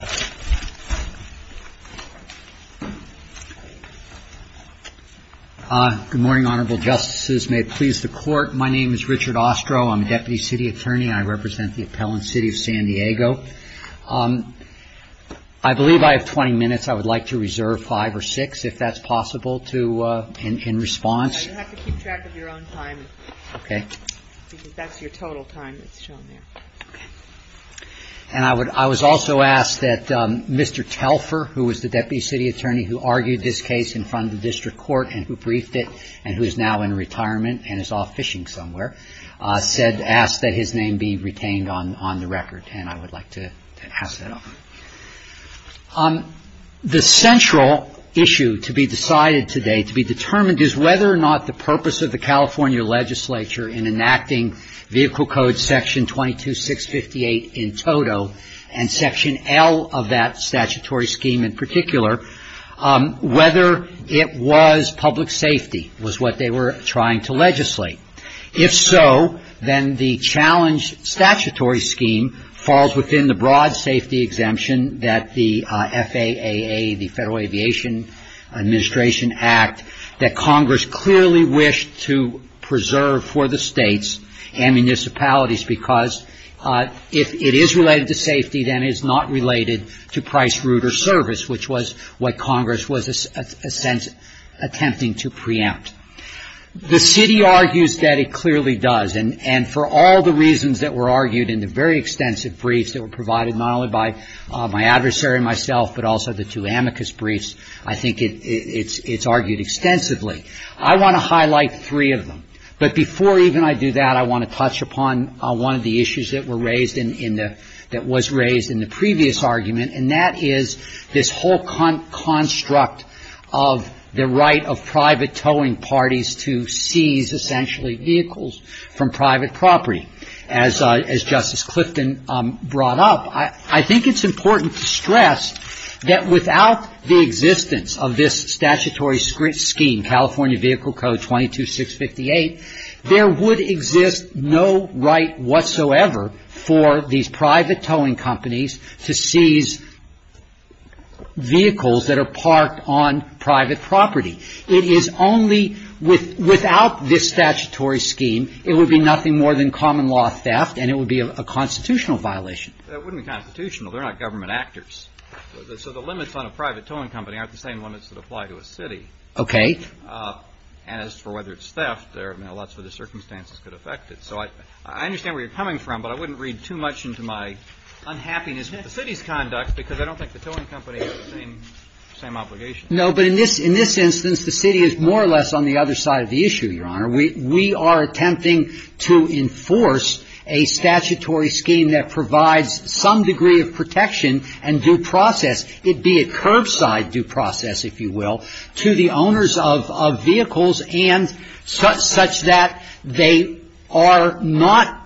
RICHARD OSTROH, DEPUTY CITY ATTORNEY, APPELLANT CITY OF SAN DIEGO I believe I have 20 minutes. I would like to reserve five or six, if that's possible, to in response. And I was also asked that Mr. Telfer, who was the Deputy City Attorney who argued this case in front of the District Court and who briefed it and who is now in retirement and is off fishing somewhere, asked that his name be retained on the record. And is whether or not the purpose of the California legislature in enacting Vehicle Code Section 22658 in toto and Section L of that statutory scheme in particular, whether it was public safety was what they were trying to legislate. If so, then the challenge statutory scheme falls within the broad safety exemption that the FAAA, the Federal Aviation Administration Act, that Congress clearly wished to preserve for the states and municipalities, because if it is related to safety, then it is not related to price, route or service, which was what Congress was attempting to preempt. The city argues that it clearly does. And for all the reasons that were argued in the very extensive briefs that were provided not only by my adversary and myself, but also the two amicus briefs, I think it's argued extensively. I want to highlight three of them. But before even I do that, I want to touch upon one of the issues that were raised in the – that was raised in the previous argument, and that is this whole construct of the right of private towing parties to seize essentially vehicles from private property. As Justice Clifton brought up, I think it's important to stress that without the existence of this statutory scheme, California Vehicle Code 22658, there would exist no right whatsoever for these private towing companies to seize vehicles that are parked on private property. It is only – without this statutory scheme, it would be nothing more than common law theft, and it would be a constitutional violation. That wouldn't be constitutional. They're not government actors. So the limits on a private towing company aren't the same limits that apply to a city. Okay. As for whether it's theft, there are lots of other circumstances that could affect it. So I understand where you're coming from, but I wouldn't read too much into my unhappiness with the city's conduct, because I don't think the towing company has the same obligation. No, but in this instance, the city is more or less on the other side of the issue, Your Honor. We are attempting to enforce a statutory scheme that provides some degree of protection and due process, it be a curbside due process, if you will, to the owners of vehicles and such that they are not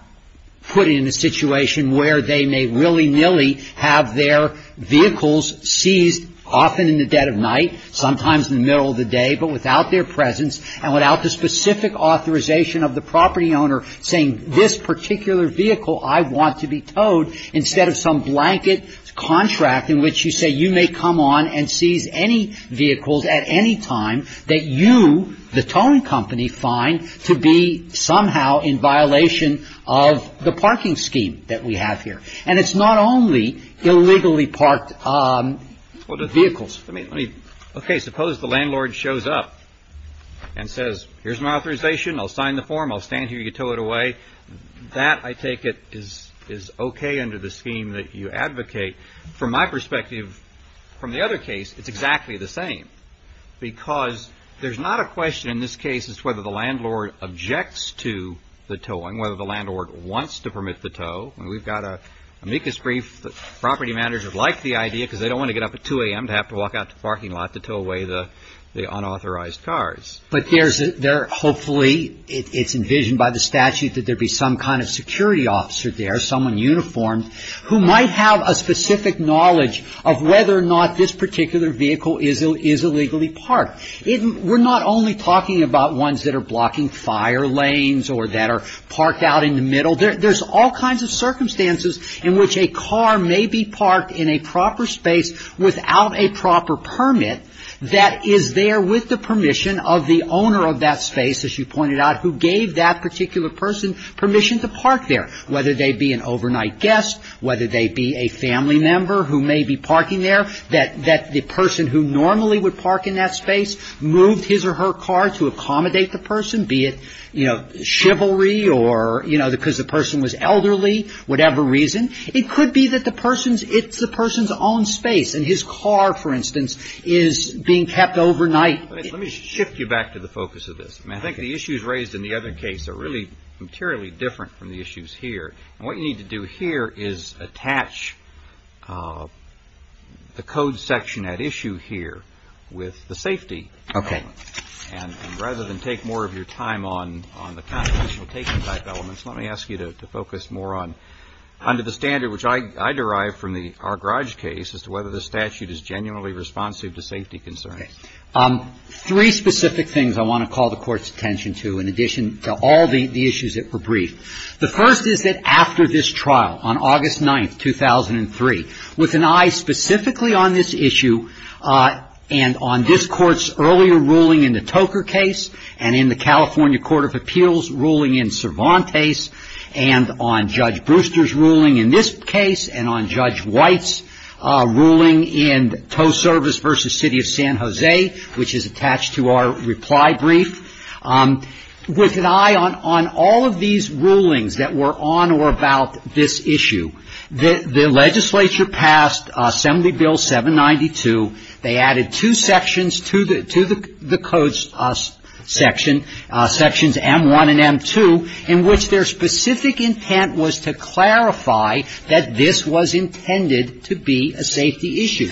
put in a situation where they may willy-nilly have their vehicles seized, often in the dead of night, sometimes in the middle of the day, but without their presence and without the specific authorization of the property owner saying, this particular vehicle I want to be towed, instead of some blanket contract in which you say you may come on and seize any vehicles at any time that you, the towing company, find to be somehow in violation of the parking scheme that we have here. And it's not only illegally parked vehicles. Okay. Suppose the landlord shows up and says, here's my authorization. I'll sign the form. I'll stand here. You tow it away. That, I take it, is okay under the scheme that you advocate. From my perspective, from the other case, it's exactly the same, because there's not a question in this case as to whether the landlord objects to the towing, whether the landlord wants to permit the tow. And we've got an amicus brief that property managers like the idea because they don't want to get up at 2 a.m. to have to walk out to the parking lot to tow away the unauthorized cars. But there's a, hopefully, it's envisioned by the statute that there be some kind of security officer there, someone uniformed, who might have a specific knowledge of whether or not this particular vehicle is illegally parked. We're not only talking about ones that are blocking fire lanes or that are parked out in the middle. There's all kinds of circumstances in which a car may be parked in a proper space without a proper permit that is there with the permission of the owner of that space, as you pointed out, who gave that particular person permission to park there, whether they be an overnight guest, whether they be a family member who may be parking there, that the person who normally would park in that space moved his or her car to accommodate the person, be it, you know, chivalry or, you know, because the person was elderly, whatever reason. It could be that the person's, it's the person's own space. And his car, for instance, is being kept overnight. Let me shift you back to the focus of this. I think the issues raised in the other case are really materially different from the issues here. And what you need to do here is attach the code section at issue here with the safety. Okay. And rather than take more of your time on the constitutional take-back elements, let me ask you to focus more on, under the standard which I derive from the Argrage case, as to whether the statute is genuinely responsive to safety concerns. Three specific things I want to call the Court's attention to, in addition to all the issues that were briefed. The first is that after this trial, on August 9, 2003, with an eye specifically on this issue, and on this Court's earlier ruling in the Toker case, and in the California Court of Appeals ruling in Cervantes, and on Judge Brewster's ruling in this case, and on Judge White's ruling in Toe Service v. City of San Jose, which is attached to our reply brief, with an eye on all of these rulings that were on or about this issue, the legislature passed Assembly Bill 792. They added two sections to the Code's section, sections M1 and M2, in which their specific intent was to clarify that this was intended to be a safety issue.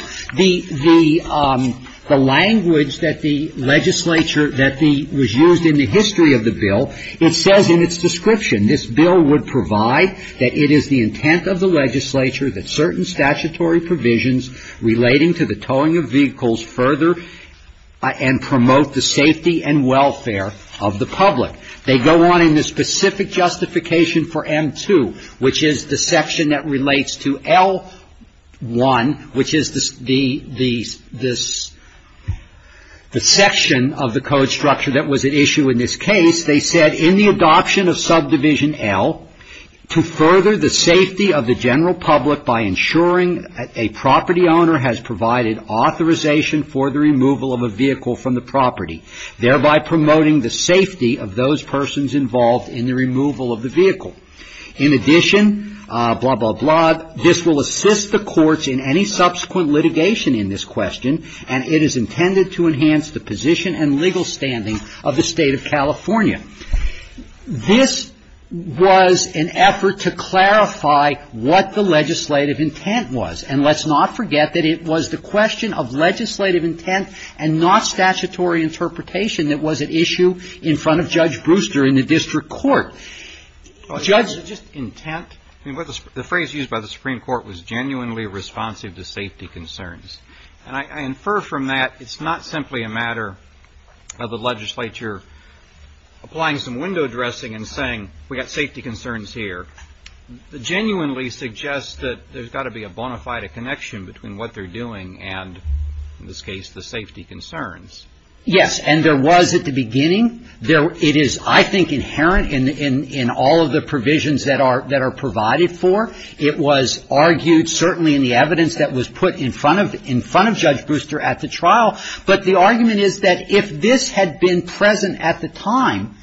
The language that the legislature, that was used in the history of the bill, it says in its description, this bill would provide that it is the intent of the legislature that certain statutory provisions relating to the towing of vehicles further and promote the safety and welfare of the public. They go on in the specific justification for M2, which is the section that relates to L1, which is the section of the Code structure that was at issue in this case. They said, in the adoption of subdivision L, to further the safety of the general public by ensuring a property owner has provided authorization for the removal of a vehicle from the property, thereby promoting the safety of those persons involved in the removal of the vehicle. In addition, blah, blah, blah, this will assist the courts in any subsequent litigation in this question, and it is intended to enhance the position and legal standing of the State of California. This was an effort to clarify what the legislative intent was. And let's not forget that it was the question of legislative intent and not statutory interpretation that was at issue in front of Judge Brewster in the district court. Judge Brewster, just intent, the phrase used by the Supreme Court was genuinely responsive to safety concerns. And I infer from that it's not simply a matter of the legislature applying some window dressing and saying, we've got safety concerns here. It genuinely suggests that there's got to be a bona fide connection between what they're doing and, in this case, the safety concerns. Yes. And there was at the beginning. It is, I think, inherent in all of the provisions that are provided for. It was argued certainly in the evidence that was put in front of Judge Brewster at the trial. But the argument is that if this had been present at the time,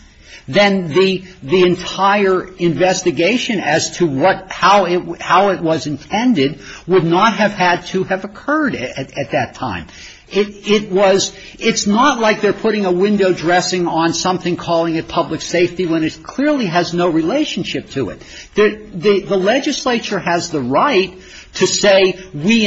then the entire investigation as to what, how it was intended would not have had to have occurred at that time. It was — it's not like they're putting a window dressing on something calling it public safety when it clearly has no relationship to it. The legislature has the right to say we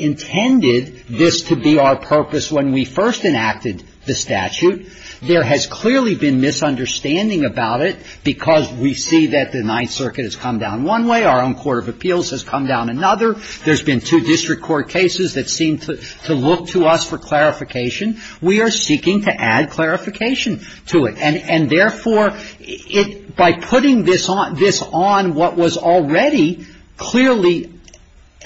intended this to be our purpose when we first enacted the statute. There has clearly been misunderstanding about it because we see that the Ninth Circuit has come down one way. Our own court of appeals has come down another. There's been two district court cases that seem to look to us for clarification. We are seeking to add clarification to it. And therefore, it — by putting this on — this on what was already clearly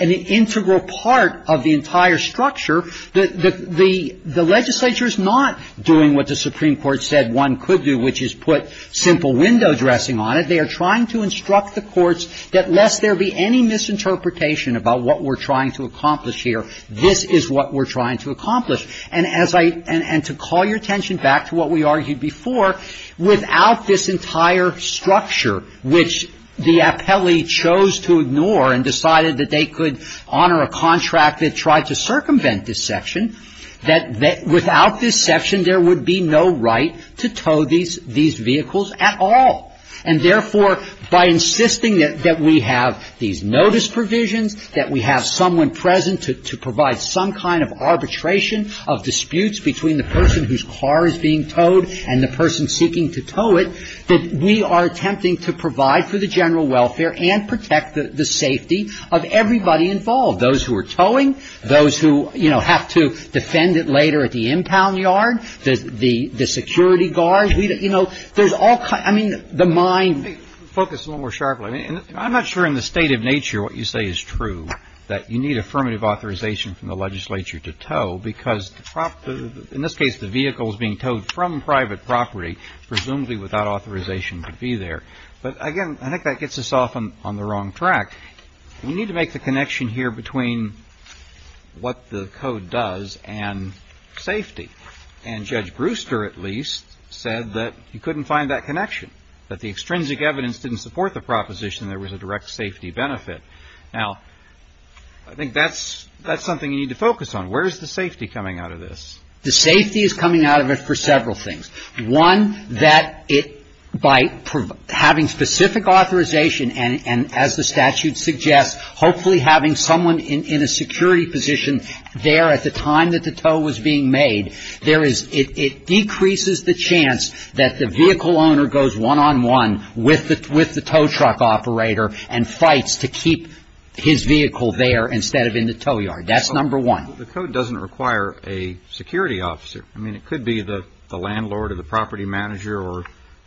an integral part of the entire structure, the legislature is not doing what the Supreme Court said one could do, which is put simple window dressing on it. They are trying to instruct the courts that lest there be any misinterpretation about what we're trying to accomplish here, this is what we're trying to accomplish. And as I — and to call your attention back to what we argued before, without this entire structure, which the appellee chose to ignore and decided that they could honor a contract that tried to circumvent this section, that without this section there would be no right to tow these — these vehicles at all. And therefore, by insisting that we have these notice provisions, that we have someone present to provide some kind of arbitration of disputes between the person whose car is being towed and the person seeking to tow it, that we are attempting to provide for the general welfare and protect the safety of everybody involved, those who are towing, those who, you know, have to defend it later at the impound yard, the security guards, you know, there's all kinds — I mean, the mind — I think — focus a little more sharply. I mean, I'm not sure in the state of nature what you say is true, that you need affirmative authorization from the legislature to tow, because the — in this case, the vehicle is being towed from private property, presumably without authorization to be there. But again, I think that gets us off on the wrong track. We need to make the connection here between what the code does and safety. And Judge Brewster, at least, said that you couldn't find that connection, that the extrinsic evidence didn't support the proposition there was a direct safety benefit. Now, I think that's — that's something you need to focus on. Where is the safety coming out of this? The safety is coming out of it for several things. One, that it — by having specific authorization, and as the statute suggests, hopefully having someone in a security position there at the time that the tow was being made, there is — it decreases the chance that the vehicle owner goes one-on-one with the tow truck operator and fights to keep his vehicle there instead of in the tow yard. That's number one. The code doesn't require a security officer. I mean, it could be the landlord or the property manager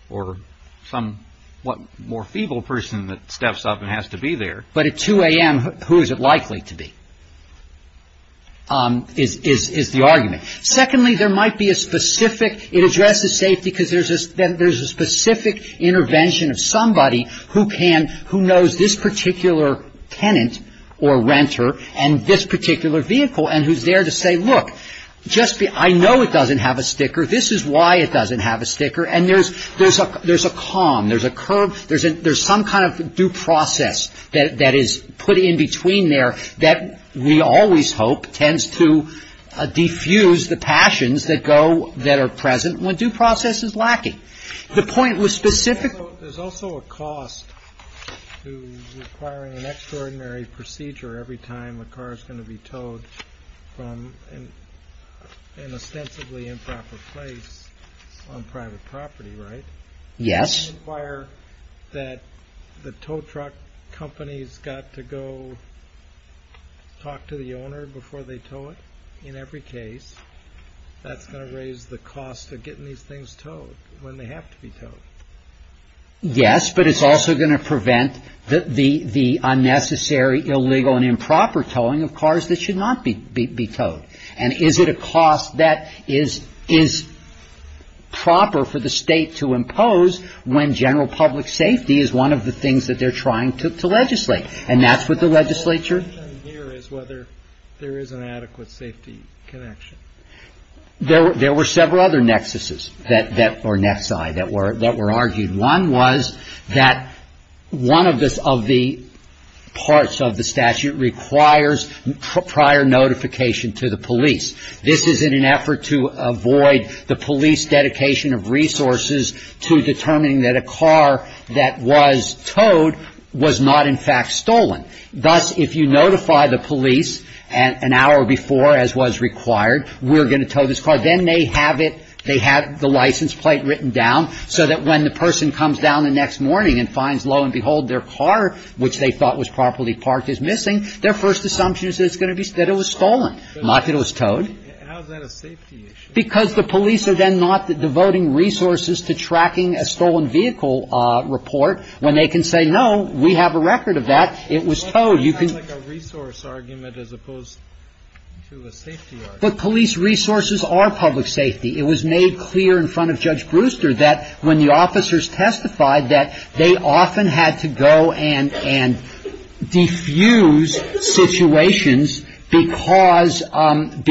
or some — what, more feeble person that steps up and has to be there. But at 2 a.m., who is it likely to be, is the argument. Secondly, there might be a specific — it addresses safety because there's a specific intervention of somebody who can — who knows this particular tenant or renter and this particular vehicle and who's there to say, look, just be — I know it doesn't have a sticker. This is why it doesn't have a sticker. And there's a calm. There's a curb. There's some kind of due process that is put in between there that we always hope tends to defuse the passions that go — that are present when due process is lacking. The point was specific — So there's also a cost to requiring an extraordinary procedure every time a car is going to be towed from an ostensibly improper place on private property, right? Yes. Do you inquire that the tow truck company's got to go talk to the owner before they tow it? In every case, that's going to raise the cost of getting these things towed when they have to be towed. Yes, but it's also going to prevent the unnecessary, illegal and improper towing of cars that should not be towed. And is it a cost that is proper for the state to impose when general public safety is one of the things that they're trying to legislate? And that's what the legislature — The question here is whether there is an adequate safety connection. There were several other nexuses that — or nexi — that were argued. One was that one of the parts of the statute requires prior notification to the police. This is in an effort to avoid the police dedication of resources to determining that a car that was towed was not in fact stolen. Thus, if you notify the police an hour before, as was required, we're going to tow this car, then they have it — they have the license plate written down so that when the person comes down the next morning and finds, lo and behold, their car, which they thought was properly parked, is missing, their first assumption is that it's going to be — that it was stolen, not that it was towed. But how is that a safety issue? Because the police are then not devoting resources to tracking a stolen vehicle report. When they can say, no, we have a record of that, it was towed. You can — Well, that sounds like a resource argument as opposed to a safety argument. But police resources are public safety. It was made clear in front of Judge Brewster that when the officers testified, that they often had to go and diffuse situations because of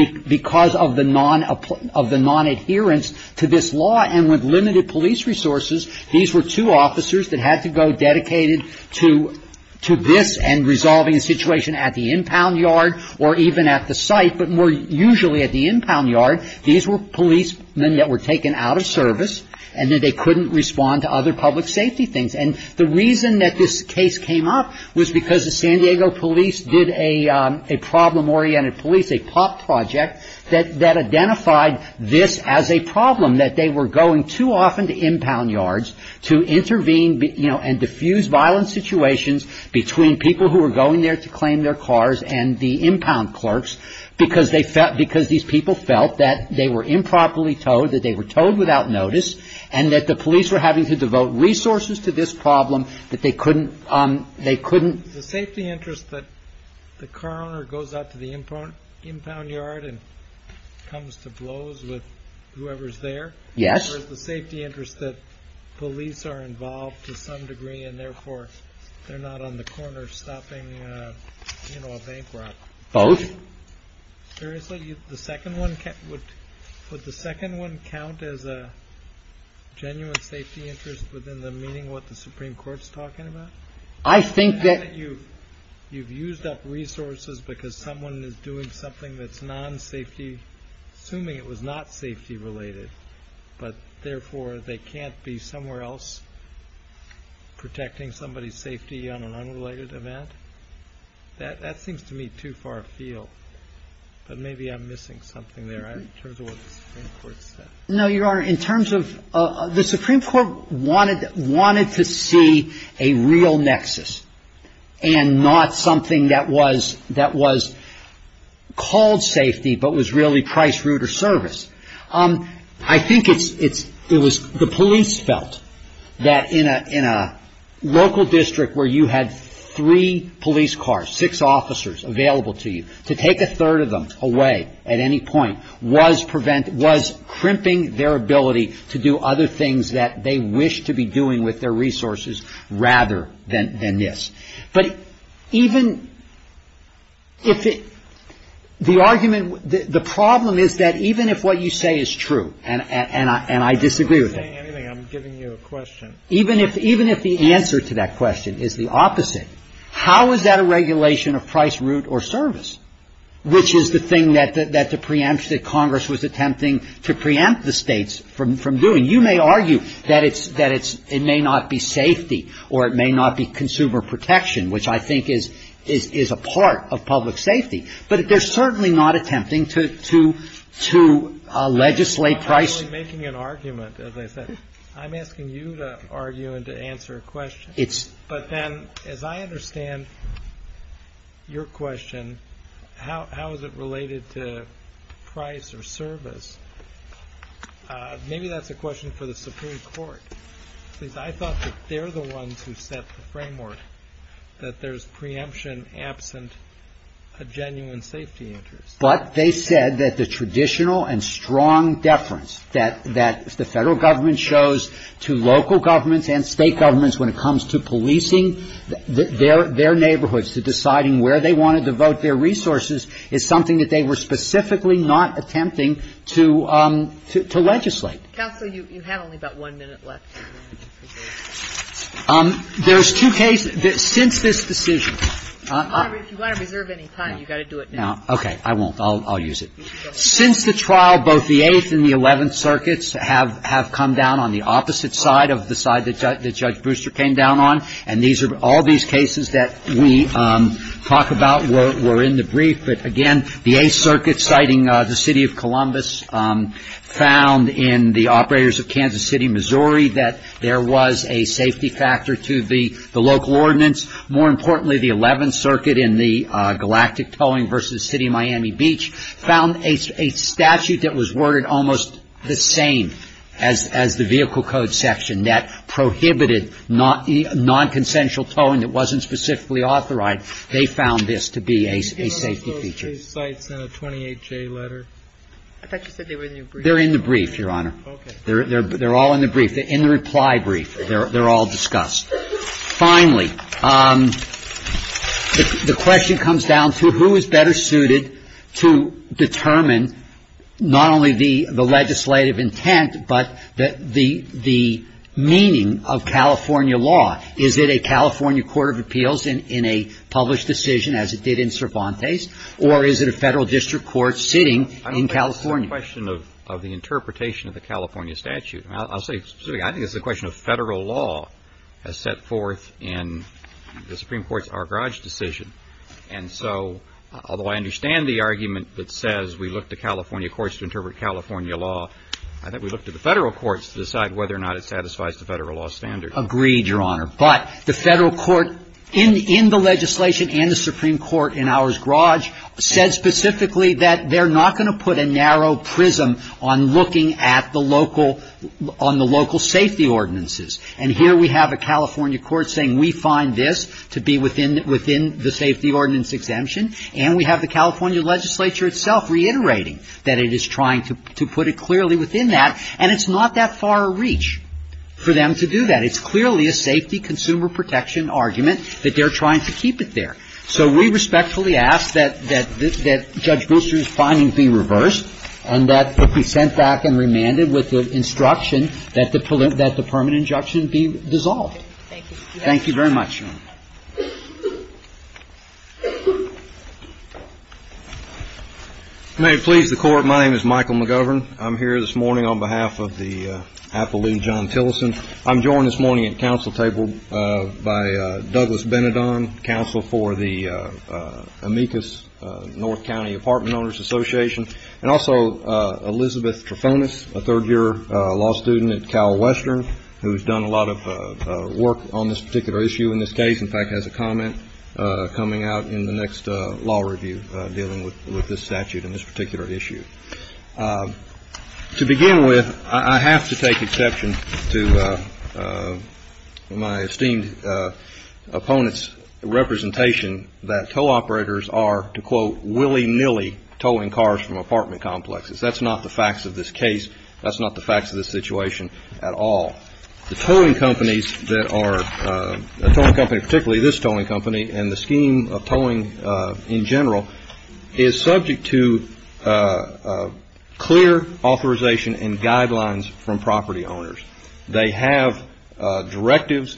the non-adherence to this law. And with limited police resources, these were two officers that had to go dedicated to this and resolving a situation at the impound yard or even at the site, but more usually at the impound yard. These were policemen that were taken out of service and that they couldn't respond to other public safety things. And the reason that this case came up was because the San Diego police did a problem-oriented police, a POP project, that identified this as a problem, that they were going too often to impound yards to intervene, you know, and diffuse violent situations between people who were going there to claim their cars and the impound yard. And that they were improperly towed, that they were towed without notice, and that the police were having to devote resources to this problem, that they couldn't — The safety interest that the car owner goes out to the impound yard and comes to blows with whoever's there — Yes. — or is the safety interest that police are involved to some degree and therefore they're not on the corner stopping, you know, a bank robber? Both. Seriously? The second one — would the second one count as a genuine safety interest within the meaning of what the Supreme Court's talking about? I think that — And that you've used up resources because someone is doing something that's non-safety — assuming it was not safety-related, but therefore they can't be somewhere else protecting somebody's safety on an unrelated event? That seems to me too far afield. But maybe I'm missing something there in terms of what the Supreme Court said. No, Your Honor. In terms of — the Supreme Court wanted to see a real nexus and not something that was called safety but was really price, route, or service. I think it's — it was the police felt that in a — in a local district where you had three police cars, six officers available to you, to take a third of them away at any point was prevent — was crimping their ability to do other things that they wished to be doing with their resources rather than — than this. But even if it — the argument — the problem is that even if what you say is true, and I — and I disagree with it — I'm not saying anything. I'm giving you a question. Even if — even if the answer to that question is the opposite, how is that a regulation of price, route, or service, which is the thing that the preempt — that Congress was attempting to preempt the states from doing? You may argue that it's — that it's — it may not be safety or it may not be consumer protection, which I think is — is a part of public safety, but they're certainly not attempting to — to — to legislate price — I'm not really making an argument, as I said. I'm asking you to argue and to answer a question. It's — But then, as I understand your question, how — how is it related to price or service? Maybe that's a question for the Supreme Court, because I thought that they're the framework, that there's preemption absent a genuine safety interest. But they said that the traditional and strong deference that — that the federal government shows to local governments and state governments when it comes to policing their — their neighborhoods, to deciding where they wanted to vote their resources, is something that they were specifically not attempting to — to legislate. Counsel, you — you had only about one minute left. There's two cases — since this decision — If you want to reserve any time, you've got to do it now. Okay. I won't. I'll — I'll use it. Since the trial, both the Eighth and the Eleventh Circuits have — have come down on the opposite side of the side that Judge — that Judge Brewster came down on, and these are — all these cases that we talk about were — were in the brief. But again, the Eighth Circuit, citing the City of Columbus, found in the operators of Kansas City, Missouri, that there was a safety factor to the — the local ordinance. More importantly, the Eleventh Circuit in the galactic towing versus the City of Miami Beach found a — a statute that was worded almost the same as — as the vehicle code section that prohibited non-consensual towing that wasn't specifically authorized. They found this to be a safety feature. Excellent. Okay. Were the 28a тяж sites in the 28j letter? I thought you said they were in the brief. They're in the brief, Your Honor. Okay. They're — they're all in the brief — the in-reply brief. They're — they're all discussed. Finally, the question comes down to who is better suited to determine not only the — the legislative intent, but the — the meaning of California law. Is it a California court of appeals in a published decision, as it did in Cervantes, or is it a Federal District Court sitting in California? I don't think this is a question of the interpretation of the California statute. I'll — I'll say specifically, I think this is a question of Federal law as set forth in the Supreme Court's Ar-Garage decision, and so, although I understand the argument that says we look to California courts to interpret California law, I think we look to the Federal courts to decide whether or not it satisfies the Federal law standards. Agreed, Your Honor. But the Federal court in — in the legislation and the Supreme Court in Ar-Garage said specifically that they're not going to put a narrow prism on looking at the local — on the local safety ordinances. And here we have a California court saying we find this to be within — within the safety ordinance exemption, and we have the California legislature itself reiterating that it is trying to — to put it clearly within that, and it's not that far a reach for them to do that. It's clearly a safety consumer protection argument that they're trying to keep it there. So we respectfully ask that — that — that Judge Booster's findings be reversed, and that it be sent back and remanded with the instruction that the — that the permanent injunction be dissolved. Thank you. Thank you very much, Your Honor. May it please the Court, my name is Michael McGovern. I'm here this morning on behalf of the Appellee, John Tillerson. I'm joined this morning at council table by Douglas Ben-Adon, counsel for the Amicus North County Apartment Owners Association, and also Elizabeth Trefonis, a third-year law student at CalWestern, who's done a lot of work on this particular issue in this case, in fact, has a comment coming out in the next law review dealing with — with this statute and this particular issue. To begin with, I have to take exception to my esteemed opponent's representation that tow operators are, to quote, willy-nilly towing cars from apartment complexes. That's not the facts of this case. That's not the facts of this situation at all. The towing companies that are — a towing company, particularly this towing company and the scheme of towing in general, is subject to clear authorization and guidelines from property owners. They have directives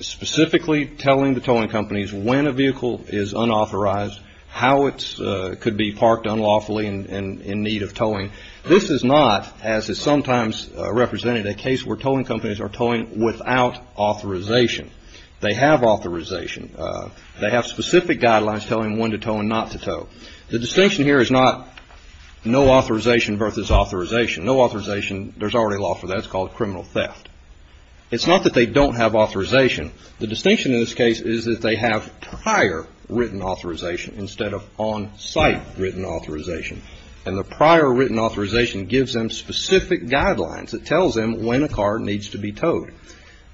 specifically telling the towing companies when a vehicle is unauthorized, how it could be parked unlawfully and in need of towing. This is not, as is sometimes represented, a case where towing companies are towing without authorization. They have authorization. They have specific guidelines telling when to tow and not to tow. The distinction here is not no authorization versus authorization. No authorization, there's already a law for that. It's called criminal theft. It's not that they don't have authorization. The distinction in this case is that they have prior written authorization instead of on-site written authorization. And the prior written authorization gives them specific guidelines. It tells them when a car needs to be towed.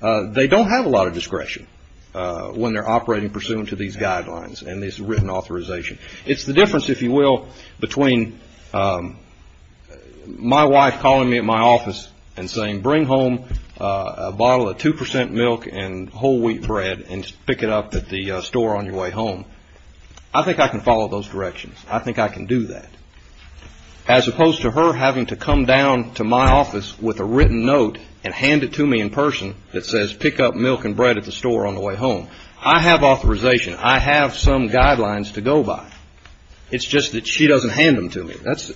They don't have a lot of discretion when they're operating pursuant to these guidelines and this written authorization. It's the difference, if you will, between my wife calling me at my office and saying, bring home a bottle of 2% milk and whole wheat bread and pick it up at the store on your way home. I think I can follow those directions. I think I can do that. As opposed to her having to come down to my office with a written note and hand it to me in person that says, pick up milk and bread at the store on the way home. I have authorization. I have some guidelines to go by. It's just that she doesn't hand them to me.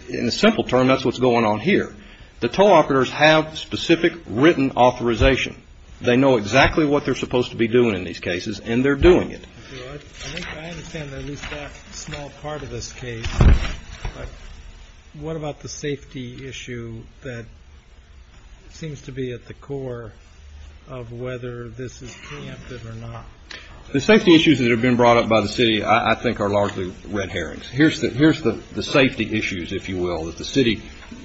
In a simple term, that's what's going on here. The tow operators have specific written authorization. They know exactly what they're supposed to be doing in these cases and they're doing it. I think I understand at least that small part of this case, but what about the safety issue that seems to be at the core of whether this is preempted or not? The safety issues that have been brought up by the city I think are largely red herrings. Here's the safety issues, if you will, that the city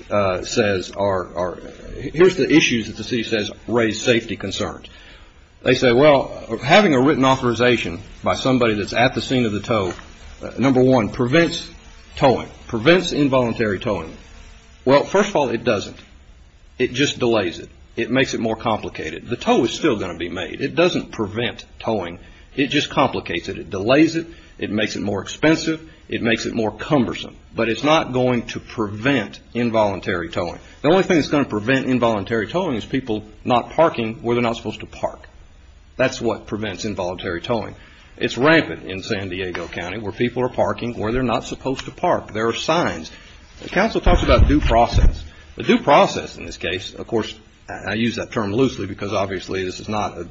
says are – here's the issues that the city says raise safety concerns. They say, well, having a written authorization by somebody that's at the scene of the tow, number one, prevents towing, prevents involuntary towing. Well, first of all, it doesn't. It just delays it. It makes it more complicated. The tow is still going to be made. It doesn't prevent towing. It just complicates it. It delays it. It makes it more expensive. It makes it more cumbersome. But it's not going to prevent involuntary towing. The only thing that's going to prevent involuntary towing is people not parking where they're not supposed to park. That's what prevents involuntary towing. It's rampant in San Diego County where people are parking where they're not supposed to park. There are signs. The council talks about due process. The due process in this case, of course, I use that term loosely because obviously this is not a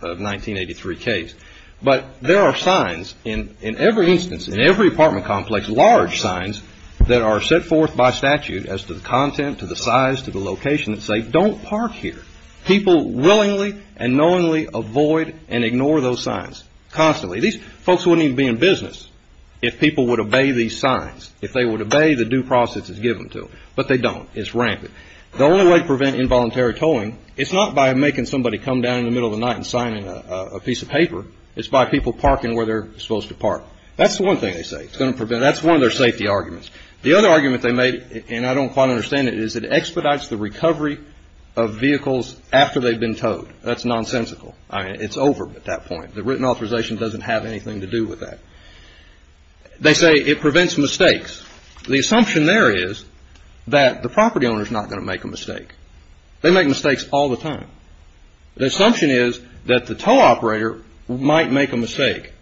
1983 case, but there are signs in every instance, in every apartment complex, large signs that are set forth by statute as to the content, to the size, to the location that say don't park here. People willingly and knowingly avoid and ignore those signs constantly. These folks wouldn't even be in business if people would obey these signs, if they would obey the due process that's given to them. But they don't. It's rampant. The only way to prevent involuntary towing, it's not by making somebody come down in the middle of the night and signing a piece of paper. It's by people parking where they're supposed to park. That's the one thing they say. That's one of their safety arguments. The other argument they made, and I don't quite understand it, is it expedites the recovery of vehicles after they've been towed. That's nonsensical. It's over at that point. The written authorization doesn't have anything to do with that. They say it prevents mistakes. The assumption there is that the property owner is not going to make a mistake. They make mistakes all the time. The assumption is that the tow operator might make a mistake,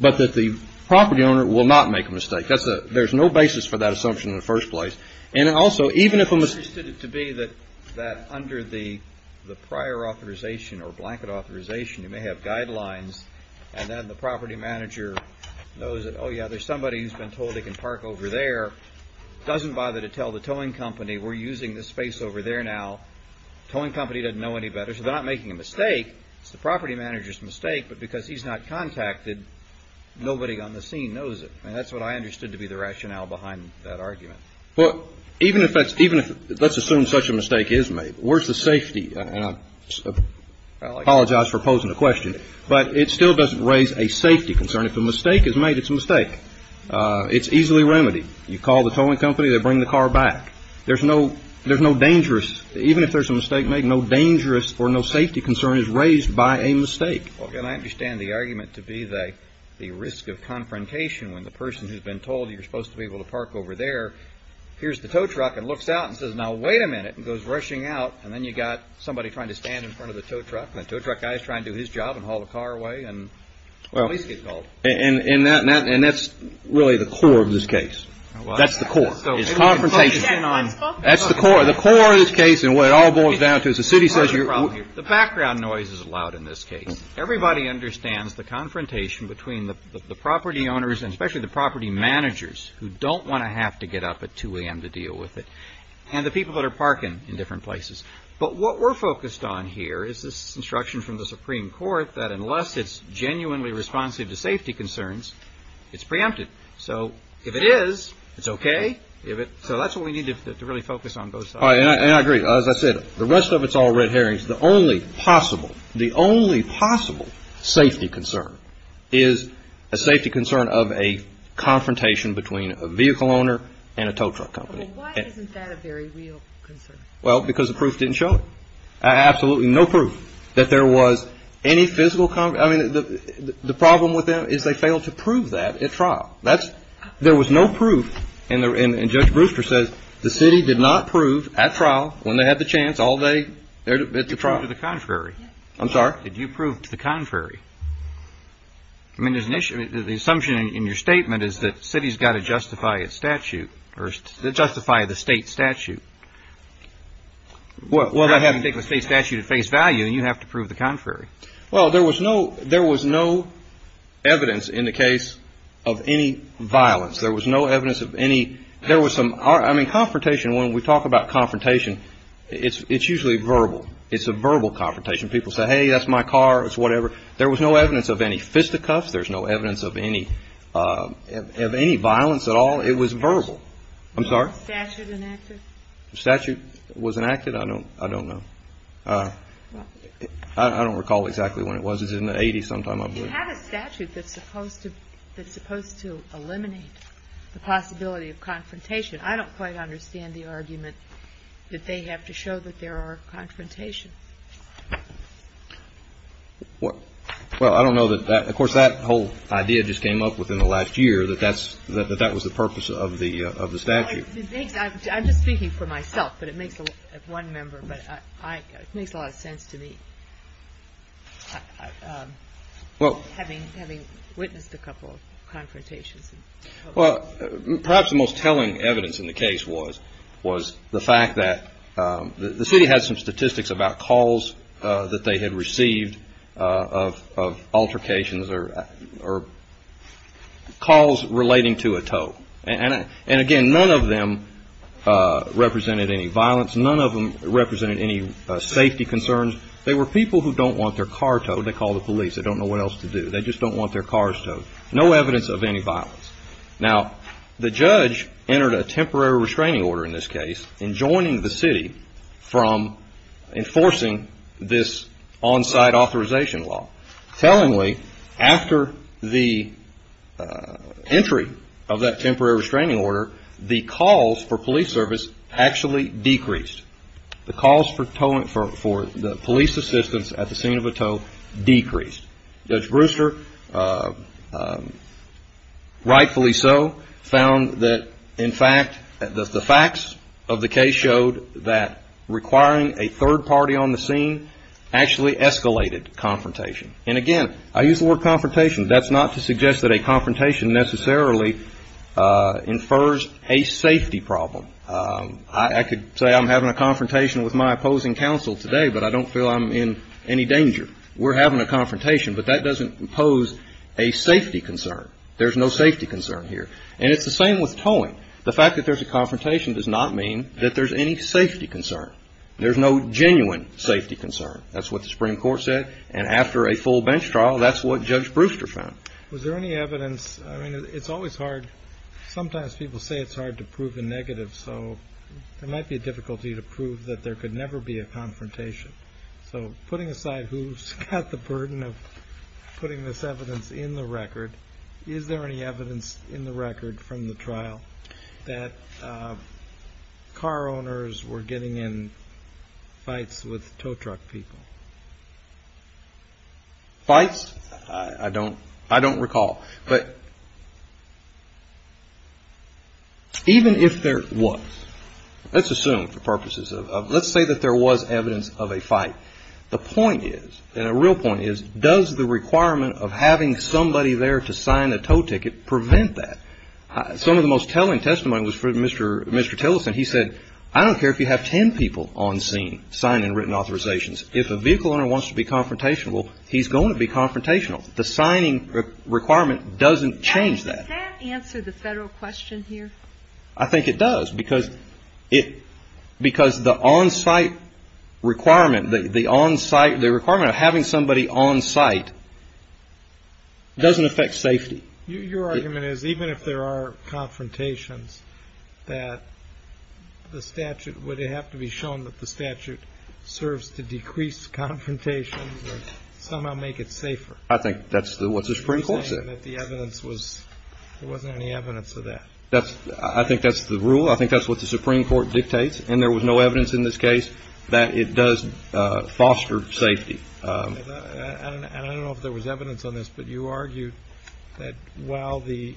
but that the property owner will not make a mistake. There's no basis for that assumption in the first place. And also, even if a mistake… It seems to be that under the prior authorization or blanket authorization, you may have guidelines, and then the property manager knows that, oh, yeah, there's somebody who's been told they can park over there, doesn't bother to tell the towing company we're using this space over there now. The towing company doesn't know any better, so they're not making a mistake. It's the property manager's mistake, but because he's not contacted, nobody on the scene knows it. And that's what I understood to be the rationale behind that argument. Well, even if that's – let's assume such a mistake is made, where's the safety? And I apologize for posing the question, but it still doesn't raise a safety concern. If a mistake is made, it's a mistake. It's easily remedied. You call the towing company, they bring the car back. There's no – there's no dangerous – even if there's a mistake made, no dangerous or no safety concern is raised by a mistake. Well, again, I understand the argument to be the risk of confrontation, when the person who's been told you're supposed to be able to park over there, hears the tow truck and looks out and says, now, wait a minute, and goes rushing out, and then you've got somebody trying to stand in front of the tow truck, and the tow truck guy is trying to do his job and haul the car away, and police get called. And that's really the core of this case. That's the core. It's confrontation. That's the core. The core of this case and what it all boils down to is the city says you're – The background noise is loud in this case. Everybody understands the confrontation between the property owners, and especially the property managers who don't want to have to get up at 2 a.m. to deal with it, and the people that are parking in different places. But what we're focused on here is this instruction from the Supreme Court that unless it's genuinely responsive to safety concerns, it's preempted. So if it is, it's okay. So that's what we need to really focus on both sides. And I agree. As I said, the rest of it's all red herrings. The only possible safety concern is a safety concern of a confrontation between a vehicle owner and a tow truck company. But why isn't that a very real concern? Well, because the proof didn't show it. Absolutely no proof that there was any physical – I mean, the problem with them is they failed to prove that at trial. That's – there was no proof. And Judge Brewster says the city did not prove at trial when they had the chance all day at the trial. Did you prove to the contrary? I'm sorry? Did you prove to the contrary? I mean, there's an issue – the assumption in your statement is that cities got to justify its statute, or justify the state statute. Well, I have to take the state statute at face value, and you have to prove the contrary. Well, there was no – there was no evidence in the case of any violence. There was no evidence of any – there was some – I mean, confrontation, when we talk about confrontation, it's usually verbal. It's a verbal confrontation. People say, hey, that's my car. It's whatever. There was no evidence of any fisticuffs. There's no evidence of any violence at all. It was verbal. I'm sorry? Was the statute enacted? The statute was enacted? I don't know. I don't recall exactly when it was. It was in the 80s sometime, I believe. You have a statute that's supposed to eliminate the possibility of confrontation. I don't quite understand the argument that they have to show that there are confrontations. Well, I don't know that that – of course, that whole idea just came up within the last year, that that's – that that was the purpose of the statute. I'm just speaking for myself, but it makes a lot of sense to me, having witnessed a couple of confrontations. Well, perhaps the most telling evidence in the case was the fact that the city had some statistics about calls that they had received of altercations or calls relating to a tow. And, again, none of them represented any violence. None of them represented any safety concerns. They were people who don't want their car towed. They call the police. They don't know what else to do. They just don't want their cars towed. No evidence of any violence. Now, the judge entered a temporary restraining order in this case in joining the city from enforcing this on-site authorization law. Tellingly, after the entry of that temporary restraining order, the calls for police service actually decreased. The calls for police assistance at the scene of a tow decreased. Judge Brewster, rightfully so, found that, in fact, the facts of the case showed that requiring a third party on the scene actually escalated confrontation. And, again, I use the word confrontation. That's not to suggest that a confrontation necessarily infers a safety problem. I could say I'm having a confrontation with my opposing counsel today, but I don't feel I'm in any danger. We're having a confrontation, but that doesn't impose a safety concern. There's no safety concern here. And it's the same with towing. The fact that there's a confrontation does not mean that there's any safety concern. There's no genuine safety concern. That's what the Supreme Court said. And after a full bench trial, that's what Judge Brewster found. Was there any evidence? I mean, it's always hard. Sometimes people say it's hard to prove a negative, so there might be a difficulty to prove that there could never be a confrontation. So, putting aside who's got the burden of putting this evidence in the record, is there any evidence in the record from the trial that car owners were getting in fights with tow truck people? Fights? I don't recall. But even if there was, let's assume for purposes of let's say that there was evidence of a fight. The point is, and a real point is, does the requirement of having somebody there to sign a tow ticket prevent that? Some of the most telling testimony was from Mr. Tillerson. He said, I don't care if you have ten people on scene signing written authorizations. If a vehicle owner wants to be confrontational, he's going to be confrontational. The signing requirement doesn't change that. Does that answer the federal question here? I think it does, because the onsite requirement, the requirement of having somebody onsite doesn't affect safety. Your argument is even if there are confrontations, that the statute, would it have to be shown that the statute serves to decrease confrontations and somehow make it safer? I think that's what the Supreme Court said. You're saying that the evidence was, there wasn't any evidence of that? I think that's the rule. I think that's what the Supreme Court dictates, and there was no evidence in this case that it does foster safety. And I don't know if there was evidence on this, but you argued that while the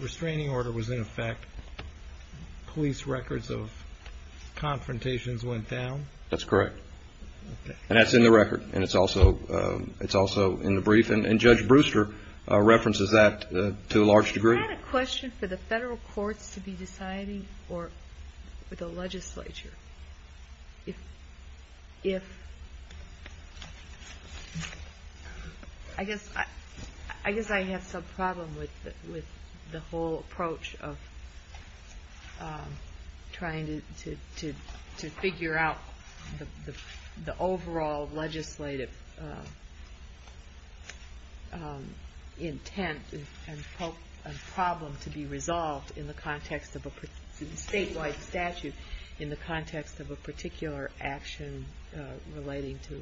restraining order was in effect, police records of confrontations went down? That's correct. And that's in the record, and it's also in the brief, and Judge Brewster references that to a large degree. Is that a question for the federal courts to be deciding, or for the legislature? I guess I have some problem with the whole approach of trying to figure out the overall legislative intent and problem to be resolved in the context of a statewide statute, in the context of a particular action relating to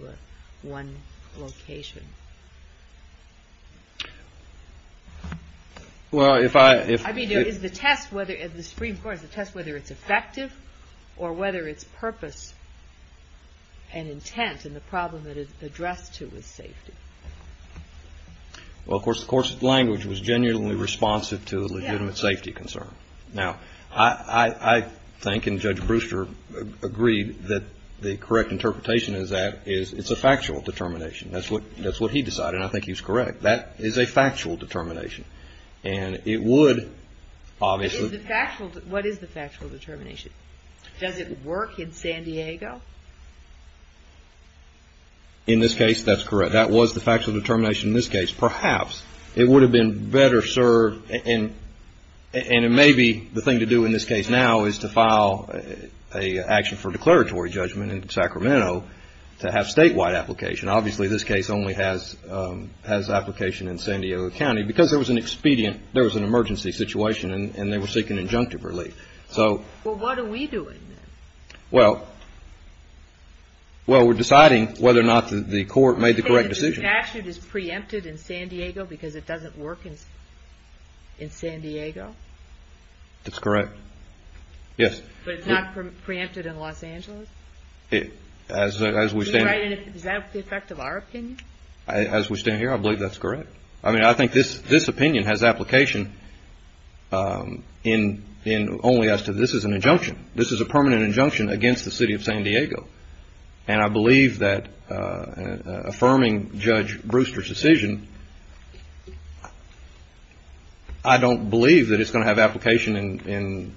one location. Well, if I... I mean, is the test, the Supreme Court, is the test whether it's effective, or whether it's purpose and intent, and the problem that it's addressed to is safety? Well, of course, the course of language was genuinely responsive to the legitimate safety concern. Now, I think, and Judge Brewster agreed, that the correct interpretation is that it's a factual determination. That's what he decided, and I think he's correct. That is a factual determination, and it would obviously... What is the factual determination? Does it work in San Diego? In this case, that's correct. That was the factual determination in this case. Perhaps it would have been better served, and it may be the thing to do in this case now is to file an action for declaratory judgment in Sacramento to have statewide application. Obviously, this case only has application in San Diego County because there was an expedient, there was an emergency situation, and they were seeking injunctive relief. So... Well, what are we doing then? Well, we're deciding whether or not the court made the correct decision. The statute is preempted in San Diego because it doesn't work in San Diego? That's correct. Yes. But it's not preempted in Los Angeles? As we stand... Is that the effect of our opinion? As we stand here, I believe that's correct. I mean, I think this opinion has application only as to this is an injunction. This is a permanent injunction against the city of San Diego. And I believe that affirming Judge Brewster's decision, I don't believe that it's going to have application in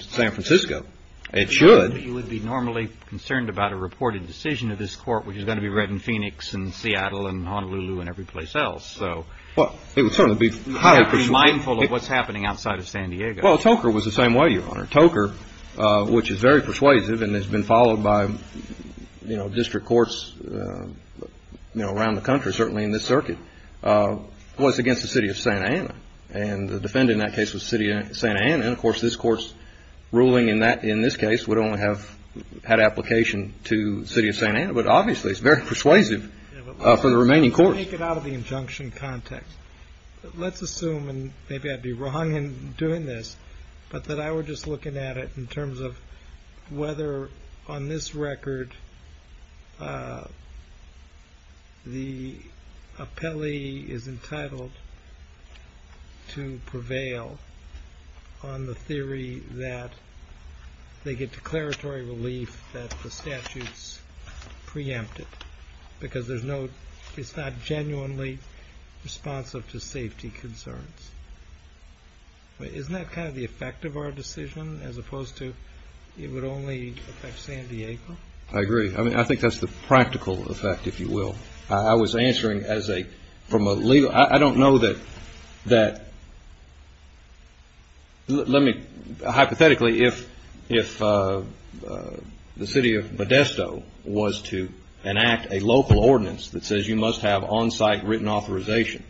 San Francisco. It should. You would be normally concerned about a reported decision of this court, which is going to be read in Phoenix and Seattle and Honolulu and every place else. So... Well, it would certainly be highly persuasive. You have to be mindful of what's happening outside of San Diego. Well, Toker was the same way, Your Honor. Toker, which is very persuasive and has been followed by district courts around the country, certainly in this circuit, was against the city of Santa Ana. And the defendant in that case was the city of Santa Ana. And, of course, this court's ruling in this case would only have had application to the city of Santa Ana. But, obviously, it's very persuasive for the remaining courts. Let's make it out of the injunction context. Let's assume, and maybe I'd be wrong in doing this, but that I were just looking at it in terms of whether, on this record, the appellee is entitled to prevail on the theory that they get declaratory relief that the statute's preempted. Because it's not genuinely responsive to safety concerns. Isn't that kind of the effect of our decision, as opposed to it would only affect San Diego? I agree. I mean, I think that's the practical effect, if you will. I was answering from a legal – I don't know that – hypothetically, if the city of Modesto was to enact a local ordinance that says you must have on-site written authorization,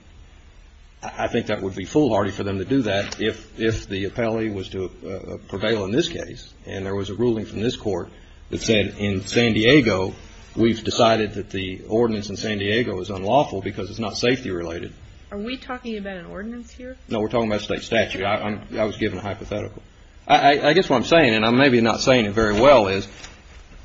I think that would be foolhardy for them to do that. If the appellee was to prevail in this case, and there was a ruling from this court that said, in San Diego, we've decided that the ordinance in San Diego is unlawful because it's not safety related. Are we talking about an ordinance here? No, we're talking about state statute. I was given a hypothetical. I guess what I'm saying, and I'm maybe not saying it very well, is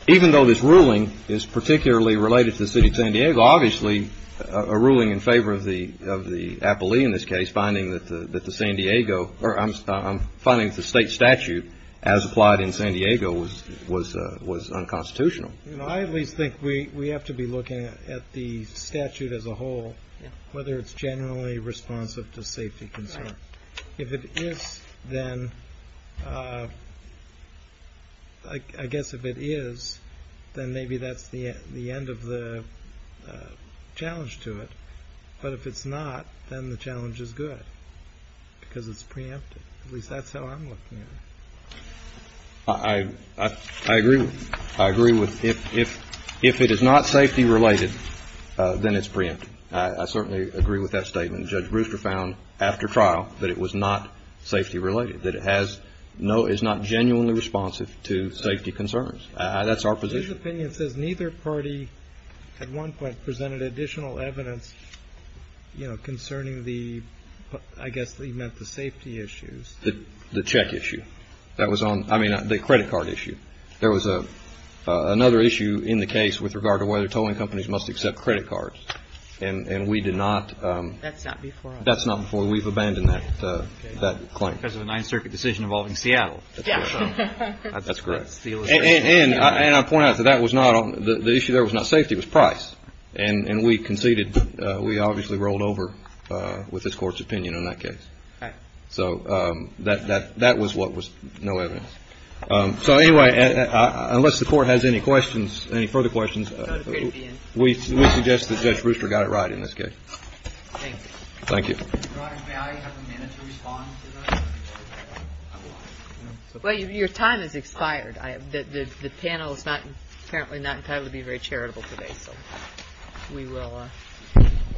even though this ruling is particularly related to the city of San Diego, obviously a ruling in favor of the appellee in this case, finding that the San Diego – or I'm finding that the state statute, as applied in San Diego, was unconstitutional. I at least think we have to be looking at the statute as a whole, whether it's generally responsive to safety concerns. If it is, then – I guess if it is, then maybe that's the end of the challenge to it. But if it's not, then the challenge is good because it's preemptive. At least that's how I'm looking at it. I agree. I agree with – if it is not safety related, then it's preemptive. I certainly agree with that statement. Judge Brewster found after trial that it was not safety related, that it has – is not genuinely responsive to safety concerns. That's our position. His opinion says neither party at one point presented additional evidence, you know, concerning the – I guess he meant the safety issues. The check issue. That was on – I mean, the credit card issue. There was another issue in the case with regard to whether towing companies must accept credit cards, and we did not. That's not before us. That's not before us. We've abandoned that claim. Because of the Ninth Circuit decision involving Seattle. Yes. That's correct. And I point out that that was not – the issue there was not safety, it was price. And we conceded – we obviously rolled over with this Court's opinion on that case. Okay. So that was what was – no evidence. So anyway, unless the Court has any questions, any further questions, we suggest that Judge Brewster got it right in this case. Thank you. Thank you. Well, your time has expired. The panel is apparently not entitled to be very charitable today, so we will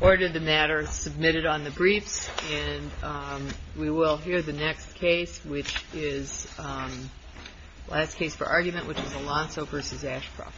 order the matter submitted on the briefs, We will hear the next case, which is – last case for argument, which is Alonso v. Ashcroft. Thank you.